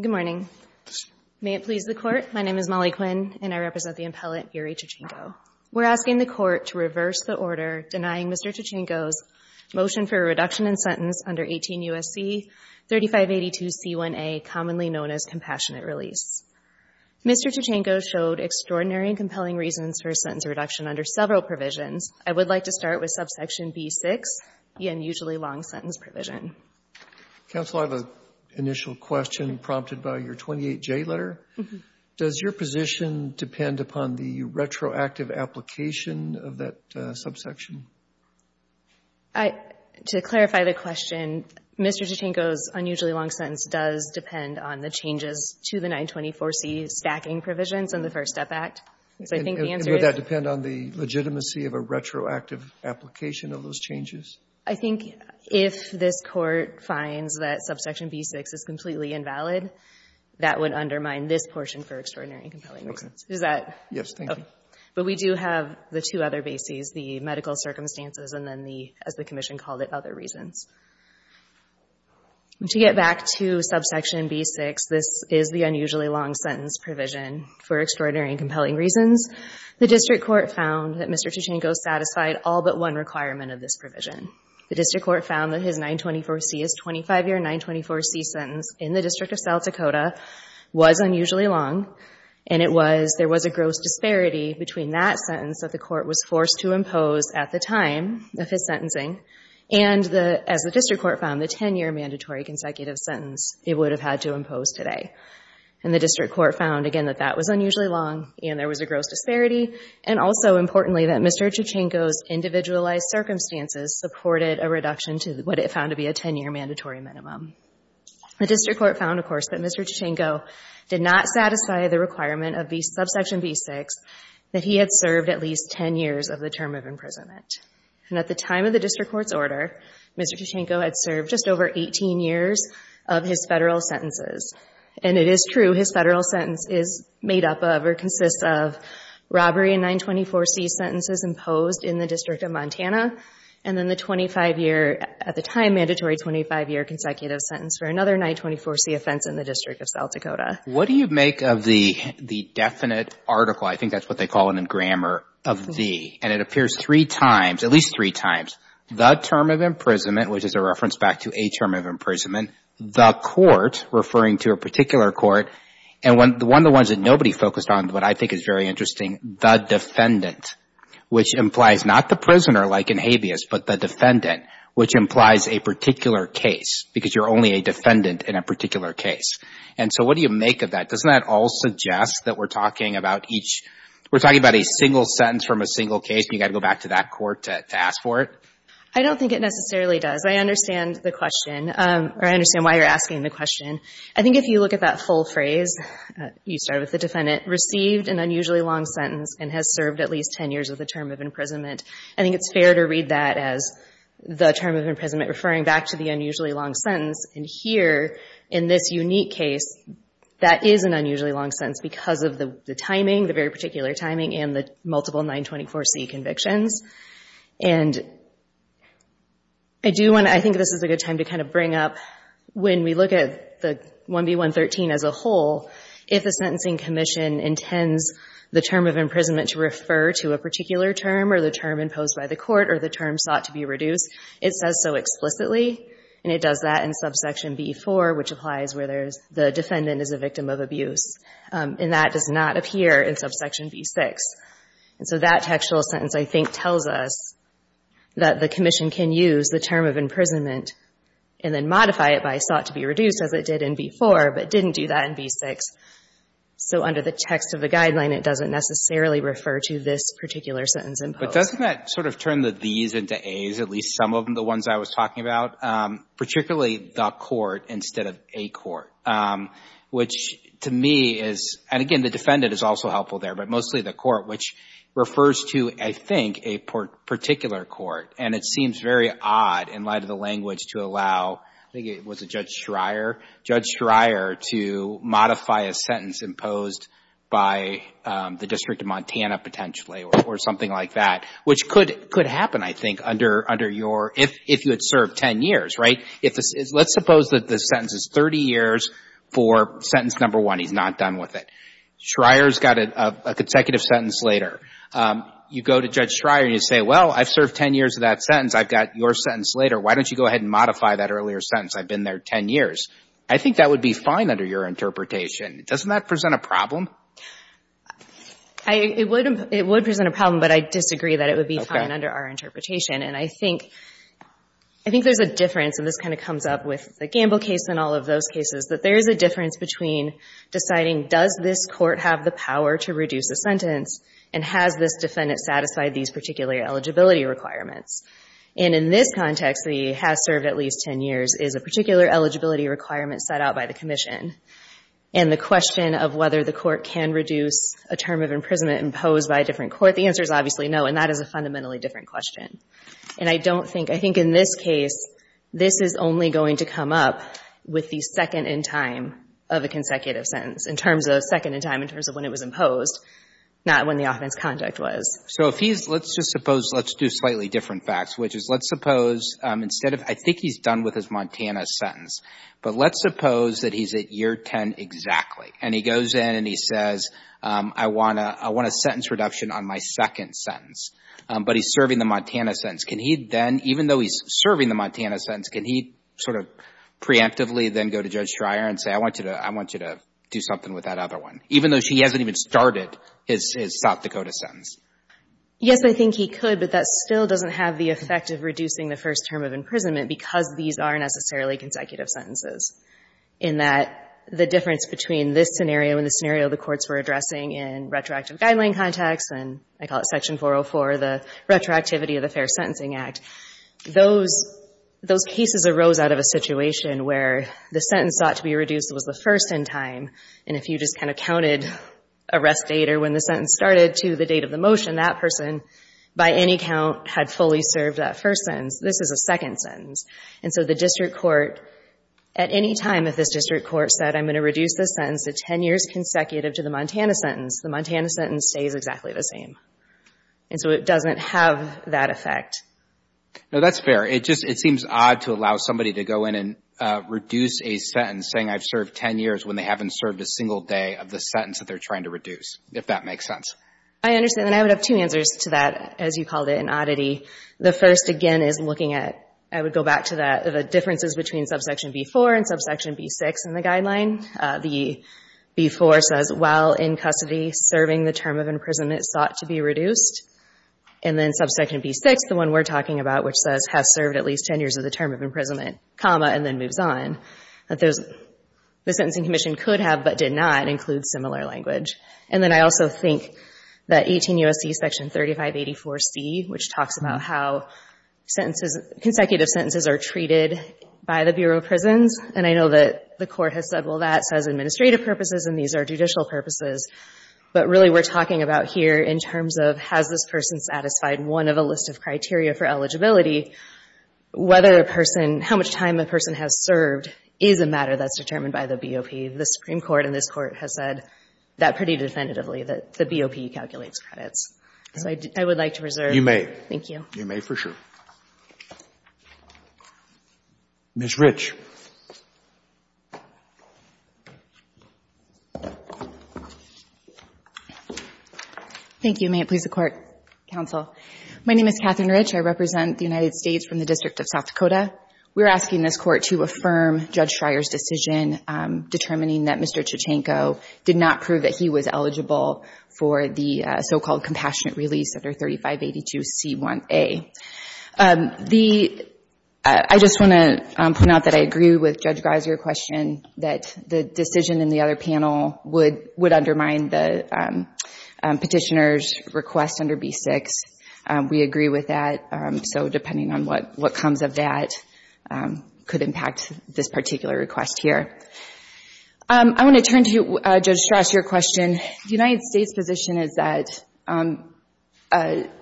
Good morning. May it please the Court, my name is Molly Quinn, and I represent the appellate Yuri Chachanko. We're asking the Court to reverse the order denying Mr. Chachanko's motion for a reduction in sentence under 18 U.S.C. 3582 C1a, commonly known as Compassionate Release. Mr. Chachanko showed extraordinary and compelling reasons for a sentence reduction under several provisions. I would like to start with subsection B6, the unusually long sentence provision. Robert R. Reilly Counsel, I have an initial question prompted by your 28J letter. Does your position depend upon the retroactive application of that subsection? Molly Quinn To clarify the question, Mr. Chachanko's unusually long sentence does depend on the changes to the 924C stacking provisions in the First Step Act. So I think the answer is— Robert R. Reilly And would that depend on the legitimacy of a retroactive application of those changes? Molly Quinn I think if this Court finds that subsection B6 is completely invalid, that would undermine this portion for extraordinary and compelling reasons. Is that— Robert R. Reilly Yes, thank you. Molly Quinn But we do have the two other bases, the medical circumstances and then the, as the Commission called it, other reasons. To get back to subsection B6, this is the unusually long sentence provision for extraordinary and compelling reasons. The District Court found that Mr. Chachanko satisfied all but one requirement of this provision. The District Court found that his 924C, his 25-year 924C sentence in the District of South Dakota was unusually long, and it was—there was a gross disparity between that sentence that the Court was forced to impose at the time of his sentencing and the, as the District Court found, the 10-year mandatory consecutive sentence it would have had to impose today. And the District Court found, again, that that was unusually long and there was a gross disparity, and also, importantly, that Mr. Chachanko's individualized circumstances supported a reduction to what it found to be a 10-year mandatory minimum. The District Court found, of course, that Mr. Chachanko did not satisfy the requirement of the subsection B6, that he had served at least 10 years of the term of imprisonment. And at the time of the District Court's order, Mr. Chachanko had served just over 18 years of his federal sentences. And it is true, his federal sentence is made up of or consists of robbery and 924C sentences imposed in the District of Montana, and then the 25-year—at the time, mandatory 25-year consecutive sentence for another 924C offense in the District of South Dakota. What do you make of the definite article—I think that's what they call it in grammar—of the, and it appears three times, at least three times, the term of imprisonment, which is a reference back to a term of imprisonment, the court, referring to a particular court, and one of the ones that nobody focused on, but I think is very interesting, the defendant, which implies not the prisoner, like in habeas, but the defendant, which implies a particular case, because you're only a defendant in a particular case. And so what do you make of that? Doesn't that all suggest that we're talking about each—we're talking about a single sentence from a single case, and you've got to go back to that court to ask for it? I don't think it necessarily does. I understand the question, or I understand why you're asking the question. I think if you look at that full phrase, you start with the defendant, received an unusually long sentence and has served at least 10 years with a term of imprisonment, I think it's fair to read that as the term of imprisonment referring back to the unusually long sentence. And here, in this unique case, that is an unusually long sentence because of the timing, the very particular timing and the multiple 924C convictions. And I do want to—I think this is a good time to kind of bring up, when we look at the 1B113 as a whole, if a sentencing commission intends the term of imprisonment to refer to a particular term or the term imposed by the court or the term sought to be reduced, it says so explicitly, and it does that in subsection B4, which applies where there's the defendant is a victim of abuse. And that does not appear in subsection B6. And so that textual sentence, I think, tells us that the commission can use the term of imprisonment and then modify it by sought to be reduced, as it did in B4, but didn't do that in B6. So under the text of the guideline, it doesn't necessarily refer to this particular sentence imposed. But doesn't that sort of turn the these into a's, at least some of the ones I was talking about, particularly the court instead of a court, which to me is—and again, the defendant is also helpful there, but mostly the court, which refers to, I think, a particular court. And it seems very odd, in light of the language, to allow—I think it was a Judge Schreier—Judge Schreier to modify a sentence imposed by the District of Montana, potentially, or something like that, which could happen, I think, under your—if you had served 10 years, right? Let's suppose that the sentence is 30 years for sentence number one. He's not done with it. Schreier's got a consecutive sentence later. You go to Judge Schreier and you say, well, I've served 10 years of that sentence. I've got your sentence later. Why don't you go ahead and modify that earlier sentence? I've been there 10 years. I think that would be fine under your interpretation. Doesn't that present a problem? It would present a problem, but I disagree that it would be fine under our interpretation. And I think there's a difference, and this kind of comes up with the Gamble case and all of those cases, that there is a difference between deciding, does this court have the power to reduce a sentence, and has this defendant satisfied these particular eligibility requirements? And in this context, he has served at least 10 years, is a particular eligibility requirement set out by the Commission. And the question of whether the court can do that is a very different question. And I don't think, I think in this case, this is only going to come up with the second in time of a consecutive sentence, in terms of second in time, in terms of when it was imposed, not when the offense conduct was. So if he's, let's just suppose, let's do slightly different facts, which is let's suppose instead of, I think he's done with his Montana sentence, but let's suppose that he's at year 10 exactly. And he goes in and he says, well, I've served 10 years and he says, I want a sentence reduction on my second sentence. But he's serving the Montana sentence. Can he then, even though he's serving the Montana sentence, can he sort of preemptively then go to Judge Schreier and say, I want you to do something with that other one, even though she hasn't even started his South Dakota sentence? Yes, I think he could, but that still doesn't have the effect of reducing the first term of imprisonment, because these aren't necessarily consecutive sentences, in that the difference between this scenario and the scenario the courts were addressing in retroactive guideline context, and I call it Section 404, the retroactivity of the Fair Sentencing Act, those cases arose out of a situation where the sentence sought to be reduced was the first in time. And if you just kind of counted arrest date or when the sentence started to the date of the motion, that person, by any count, had fully served that first sentence. This is a second sentence. And so the district court, at any time if this district court said, I'm going to reduce the sentence to 10 years consecutive to the Montana sentence, the Montana sentence stays exactly the same. And so it doesn't have that effect. No, that's fair. It just, it seems odd to allow somebody to go in and reduce a sentence saying I've served 10 years when they haven't served a single day of the sentence that they're trying to reduce, if that makes sense. I understand, and I would have two answers to that, as you called it, an oddity. The first, again, is looking at, I would go back to that, the differences between subsection B4 and subsection B6 in the guideline. The B4 says, while in custody serving the term of imprisonment sought to be reduced. And then subsection B6, the one we're talking about, which says, has served at least 10 years of the term of imprisonment, comma, and then moves on. The Sentencing Commission could have, but did not, include similar language. And then I also think that 18 U.S.C. section 3584C, which talks about how sentences, consecutive sentences are treated by the Bureau of Prisons, and I know that the Court has said, well, that says administrative purposes and these are judicial purposes. But really we're talking about here in terms of has this person satisfied one of a list of criteria for eligibility, whether a person, how much time a person has served is a matter that's determined by the BOP. The Supreme Court in this Court has said that pretty definitively, that the BOP calculates credits. So I would like to reserve. You may. Thank you. You may for sure. Thank you. May it please the Court, Counsel. My name is Catherine Rich. I represent the United States from the District of South Dakota. We're asking this Court to affirm Judge Schreyer's decision determining that Mr. Chachanko did not prove that he was eligible for the so-called compassionate release under 3582C1A. I just want to point out that I agree with Judge Grise, your question, that the decision in the other panel would undermine the petitioner's request under B6. We agree with that. So depending on what comes of that could impact this particular request here. I want to turn to you, Judge Strauss, your question. The United States' position is that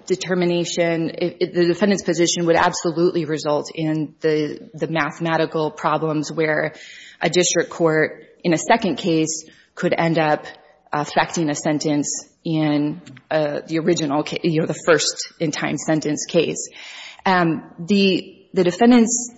determination, the defendant's position would absolutely result in the mathematical problems where a district court in a second case could end up affecting a sentence in the original case, you know, the first in time sentence case. The defendant's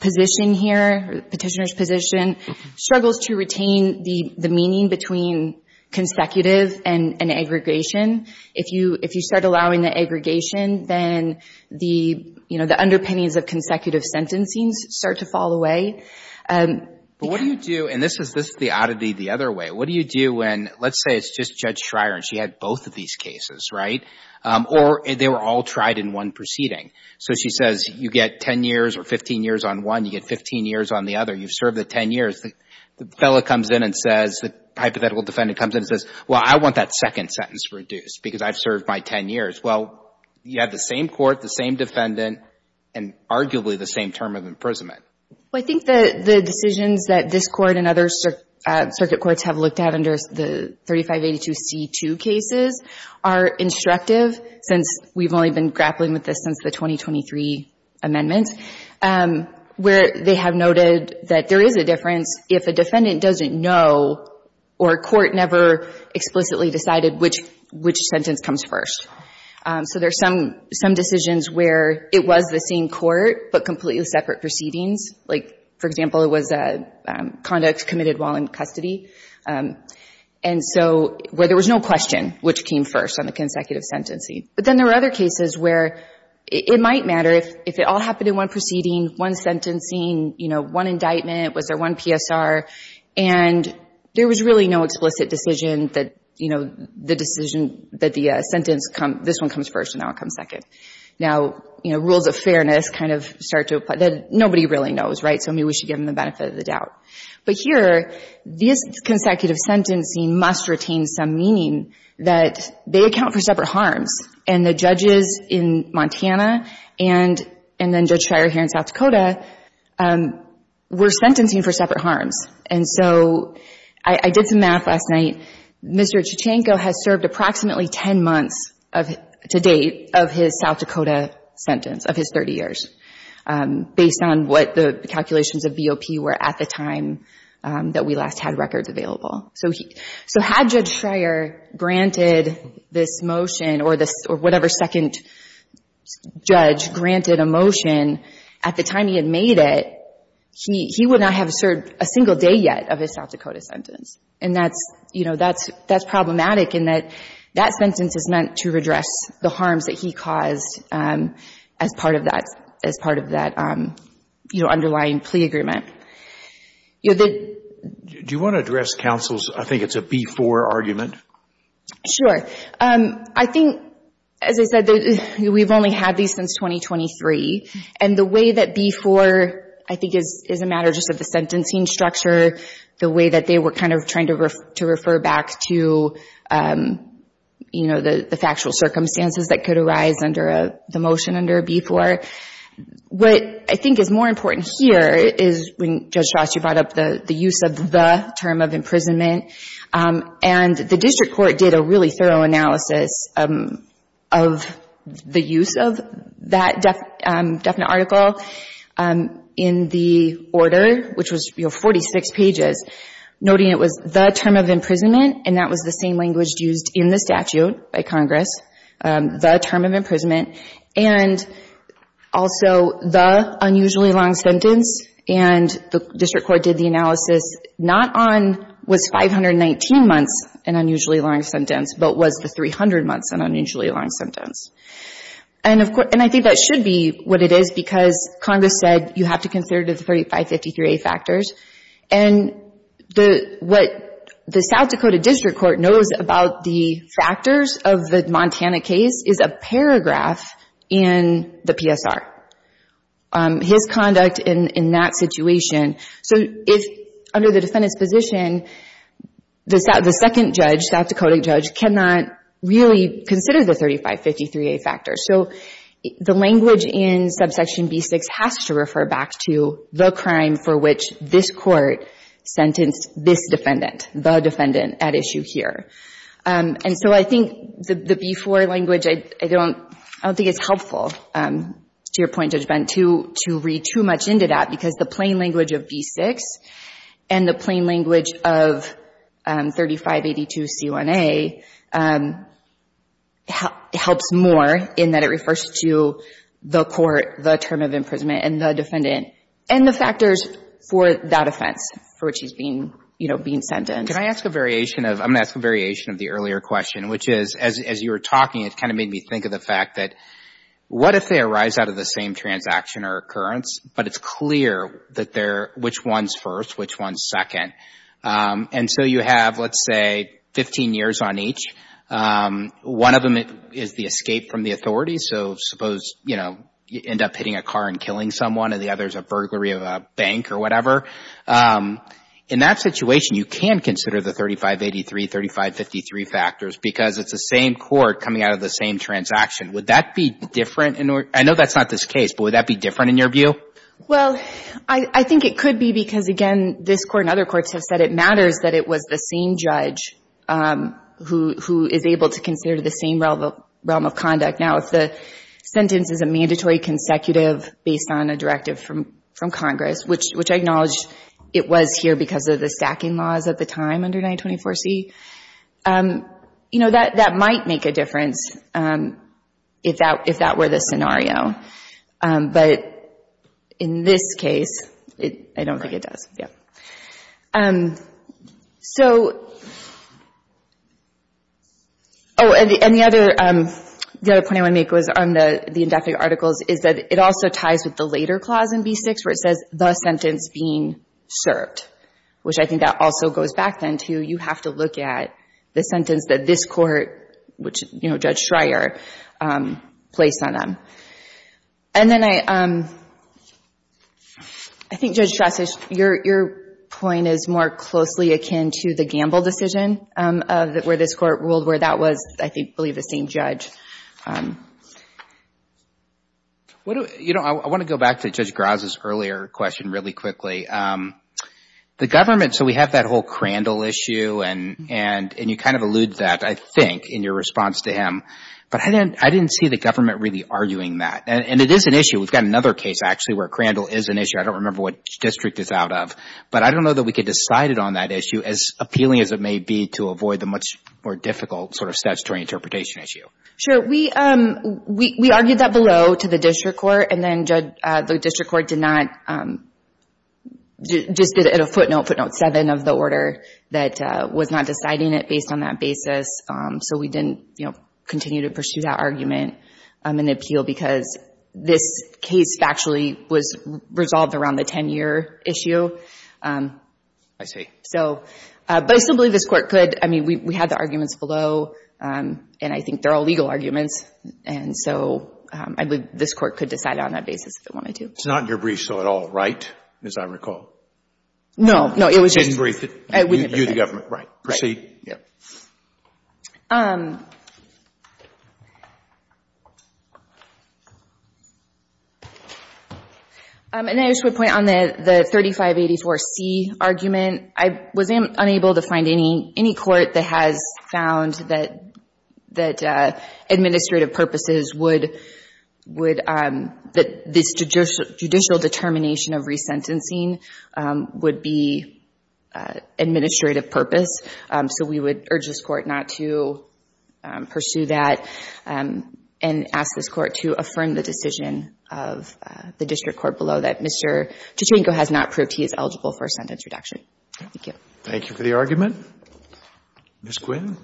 position here, the petitioner's position struggles to retain the meaning between consecutive and aggregation. If you start allowing the aggregation, then the, you know, the underpinnings of consecutive sentencing start to fall away. But what do you do, and this is the oddity the other way, what do you do when, let's say it's just Judge Schreyer and she had both of these cases, right? Or they were all tried in one proceeding. So she says you get 10 years or 15 years on one, you get 15 years on the other, you've served the 10 years. The fellow comes in and says, the hypothetical defendant comes in and says, well, I want that second sentence reduced because I've served my 10 years. Well, you have the same court, the same defendant, and arguably the same term of imprisonment. Well, I think the decisions that this Court and other circuit courts have looked at under the 3582 C2 cases are instructive since we've only been grappling with this since the 2023 amendments, where they have noted that there is a difference if a defendant doesn't know or a court never explicitly decided which, which sentence comes first. So there's some, some decisions where it was the same court but completely separate proceedings. Like, for example, it was a conduct committed while in custody. And so where there was no question which came first on the consecutive sentencing. But then there were other cases where it might matter if, if it all happened in one proceeding, one sentencing, you know, one indictment, was there one PSR, and there was really no explicit decision that, you know, the decision that the sentence come, this one comes first and that one comes second. Now, you know, rules of fairness kind of start to apply. Nobody really knows, right? So maybe we should give them the benefit of the doubt. But here, this consecutive sentencing must retain some meaning that they account for separate harms. And the judges in Montana and, and then Judge Schreyer here in South Dakota were sentencing for separate harms. And so I, I did some math last night. Mr. Chuchanko has served approximately 10 months of, to date, of his South Dakota sentence, of his 30 years, based on what the calculations of BOP were at the time that we last had records available. So he, so had Judge Schreyer granted this motion or this, or whatever second judge granted a motion at the time he had made it, he, he would not have served a single day yet of his South Dakota sentence. And that's, you know, that's, that's problematic in that that sentence is meant to redress the harms that he caused as part of that, as part of that, you know, underlying plea agreement. Do you want to address counsel's, I think it's a B-4 argument? Sure. I think, as I said, we've only had these since 2023. And the way that B-4, I think is, is a matter just of the sentencing structure, the way that they were kind of trying to, to refer back to, you know, the, the factual circumstances that could arise under a, the motion under B-4. What I think is more important here is when Judge Shost, you brought up the, the use of the term of imprisonment. And the district court did a really thorough analysis of the use of that definite article in the order, which was, you know, 46 pages, noting it was the term of imprisonment, and that was the same language used in the statute by Congress, the term of imprisonment. And also the unusually long sentence. And the district court did the analysis, not on, was 519 months an unusually long sentence, but was the 300 months an unusually long sentence. And of course, and I think that should be what it is, because Congress said you have to consider the 3553A factors. And the, what the South Dakota district court knows about the factors of the case is a paragraph in the PSR. His conduct in, in that situation. So if, under the defendant's position, the, the second judge, South Dakota judge, cannot really consider the 3553A factors. So the language in subsection B-6 has to refer back to the crime for which this court sentenced this defendant, the defendant at issue here. And so I think the, the B-4 language, I don't, I don't think it's helpful to your point, Judge Bent, to, to read too much into that, because the plain language of B-6 and the plain language of 3582C1A helps more in that it refers to the court, the term of imprisonment, and the defendant, and the factors for that offense for which he's being, you know, being sentenced. Can I ask a variation of, I'm going to ask a variation of the earlier question, which is, as, as you were talking, it kind of made me think of the fact that what if they arise out of the same transaction or occurrence, but it's clear that they're, which one's first, which one's second. And so you have, let's say, 15 years on each. One of them is the escape from the burglary of a bank or whatever. In that situation, you can consider the 3583, 3553 factors because it's the same court coming out of the same transaction. Would that be different in order, I know that's not this case, but would that be different in your view? Well, I, I think it could be because again, this court and other courts have said it matters that it was the same judge who, who is able to consider the same realm of, realm of conduct. Now, if the sentence is a mandatory consecutive based on a directive from, from Congress, which, which I acknowledge it was here because of the stacking laws at the time under 924C, you know, that, that might make a difference if that, if that were the scenario. But in this case, I don't think it does. Yeah. So, oh, and the, and the other, the other point I want to make was on the, the indefinite articles is that it also ties with the later clause in B-6 where it says the sentence being served, which I think that also goes back then to, you have to look at the sentence that this court, which, you know, Judge Schreier placed on them. And then I, I think Judge Strauss, your, your point is more closely akin to the Gamble decision of where this court ruled where that was, I think, I believe the same judge. What do, you know, I want to go back to Judge Graz's earlier question really quickly. The government, so we have that whole Crandall issue and, and, and you kind of allude that, I think, in your response to him. But I didn't, I didn't see the government really arguing that. And it is an issue. We've got another case actually where Crandall is an issue. I don't remember what district it's out of. But I don't know that we could decide it on that issue as appealing as it may be to avoid the much more difficult sort of statutory interpretation issue. Sure. We, we, we argued that below to the district court and then the district court did not, just did it at a footnote, footnote seven of the order that was not deciding it based on that basis. So we didn't, you know, continue to pursue that argument and appeal because this case factually was resolved around the 10-year issue. I see. So, but I still believe this court could, I mean, we, we had the arguments below and I think they're all legal arguments. And so I believe this court could decide it on that basis if it wanted to. It's not in your brief show at all, right? As I recall. No, no, it was just. You didn't brief it. I wouldn't have briefed it. You, the government, right. Proceed. Yeah. And I just would point on the, the 3584C argument. I was unable to find any, any court that has found that, that administrative purposes would, would, that this judicial determination of resentencing would be administrative purpose. So we would urge this court not to pursue that and ask this court to affirm the decision of the district court below that Mr. Tuchenko has not proved he is eligible for a sentence reduction. Thank you. Thank you for the argument. Ms. Quinn.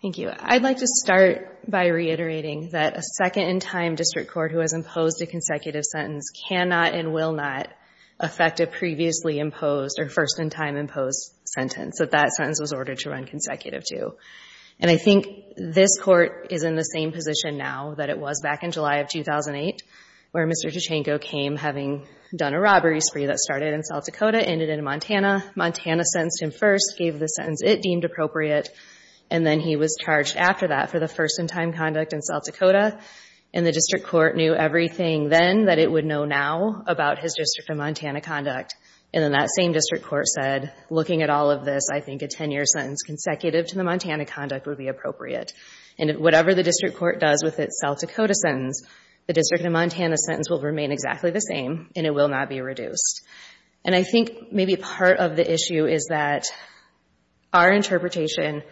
Thank you. I'd like to start by reiterating that a second-in-time district court who has imposed a consecutive sentence cannot and will not affect a previously imposed or first-in-time imposed sentence, that that sentence was ordered to run consecutive to. And I think this court is in the same position now that it was back in July of 2008 where Mr. Tuchenko came having done a robbery spree that started in South Dakota, ended in Montana. Montana sentenced him first, gave the sentence it deemed appropriate, and then he was charged after that for the first-in-time conduct in South Dakota. And the district court knew everything then that it would know now about his Montana conduct. And then that same district court said, looking at all of this, I think a 10-year sentence consecutive to the Montana conduct would be appropriate. And whatever the district court does with its South Dakota sentence, the District of Montana sentence will remain exactly the same and it will not be reduced. And I think maybe part of the issue is that our interpretation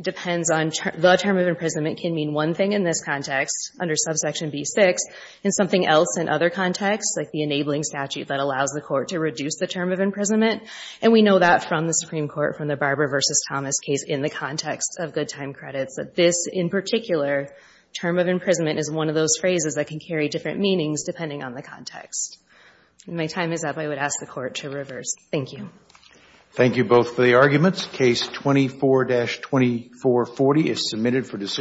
depends on the term of imprisonment can mean one thing in this context under subsection B-6 in something else in other contexts, like the enabling statute that allows the court to reduce the term of imprisonment. And we know that from the Supreme Court from the Barber v. Thomas case in the context of good time credits, that this, in particular, term of imprisonment is one of those phrases that can carry different meanings depending on the context. My time is up. I would ask the Court to reverse. Thank you. Thank you both for the arguments. Case 24-2440 is submitted for decision.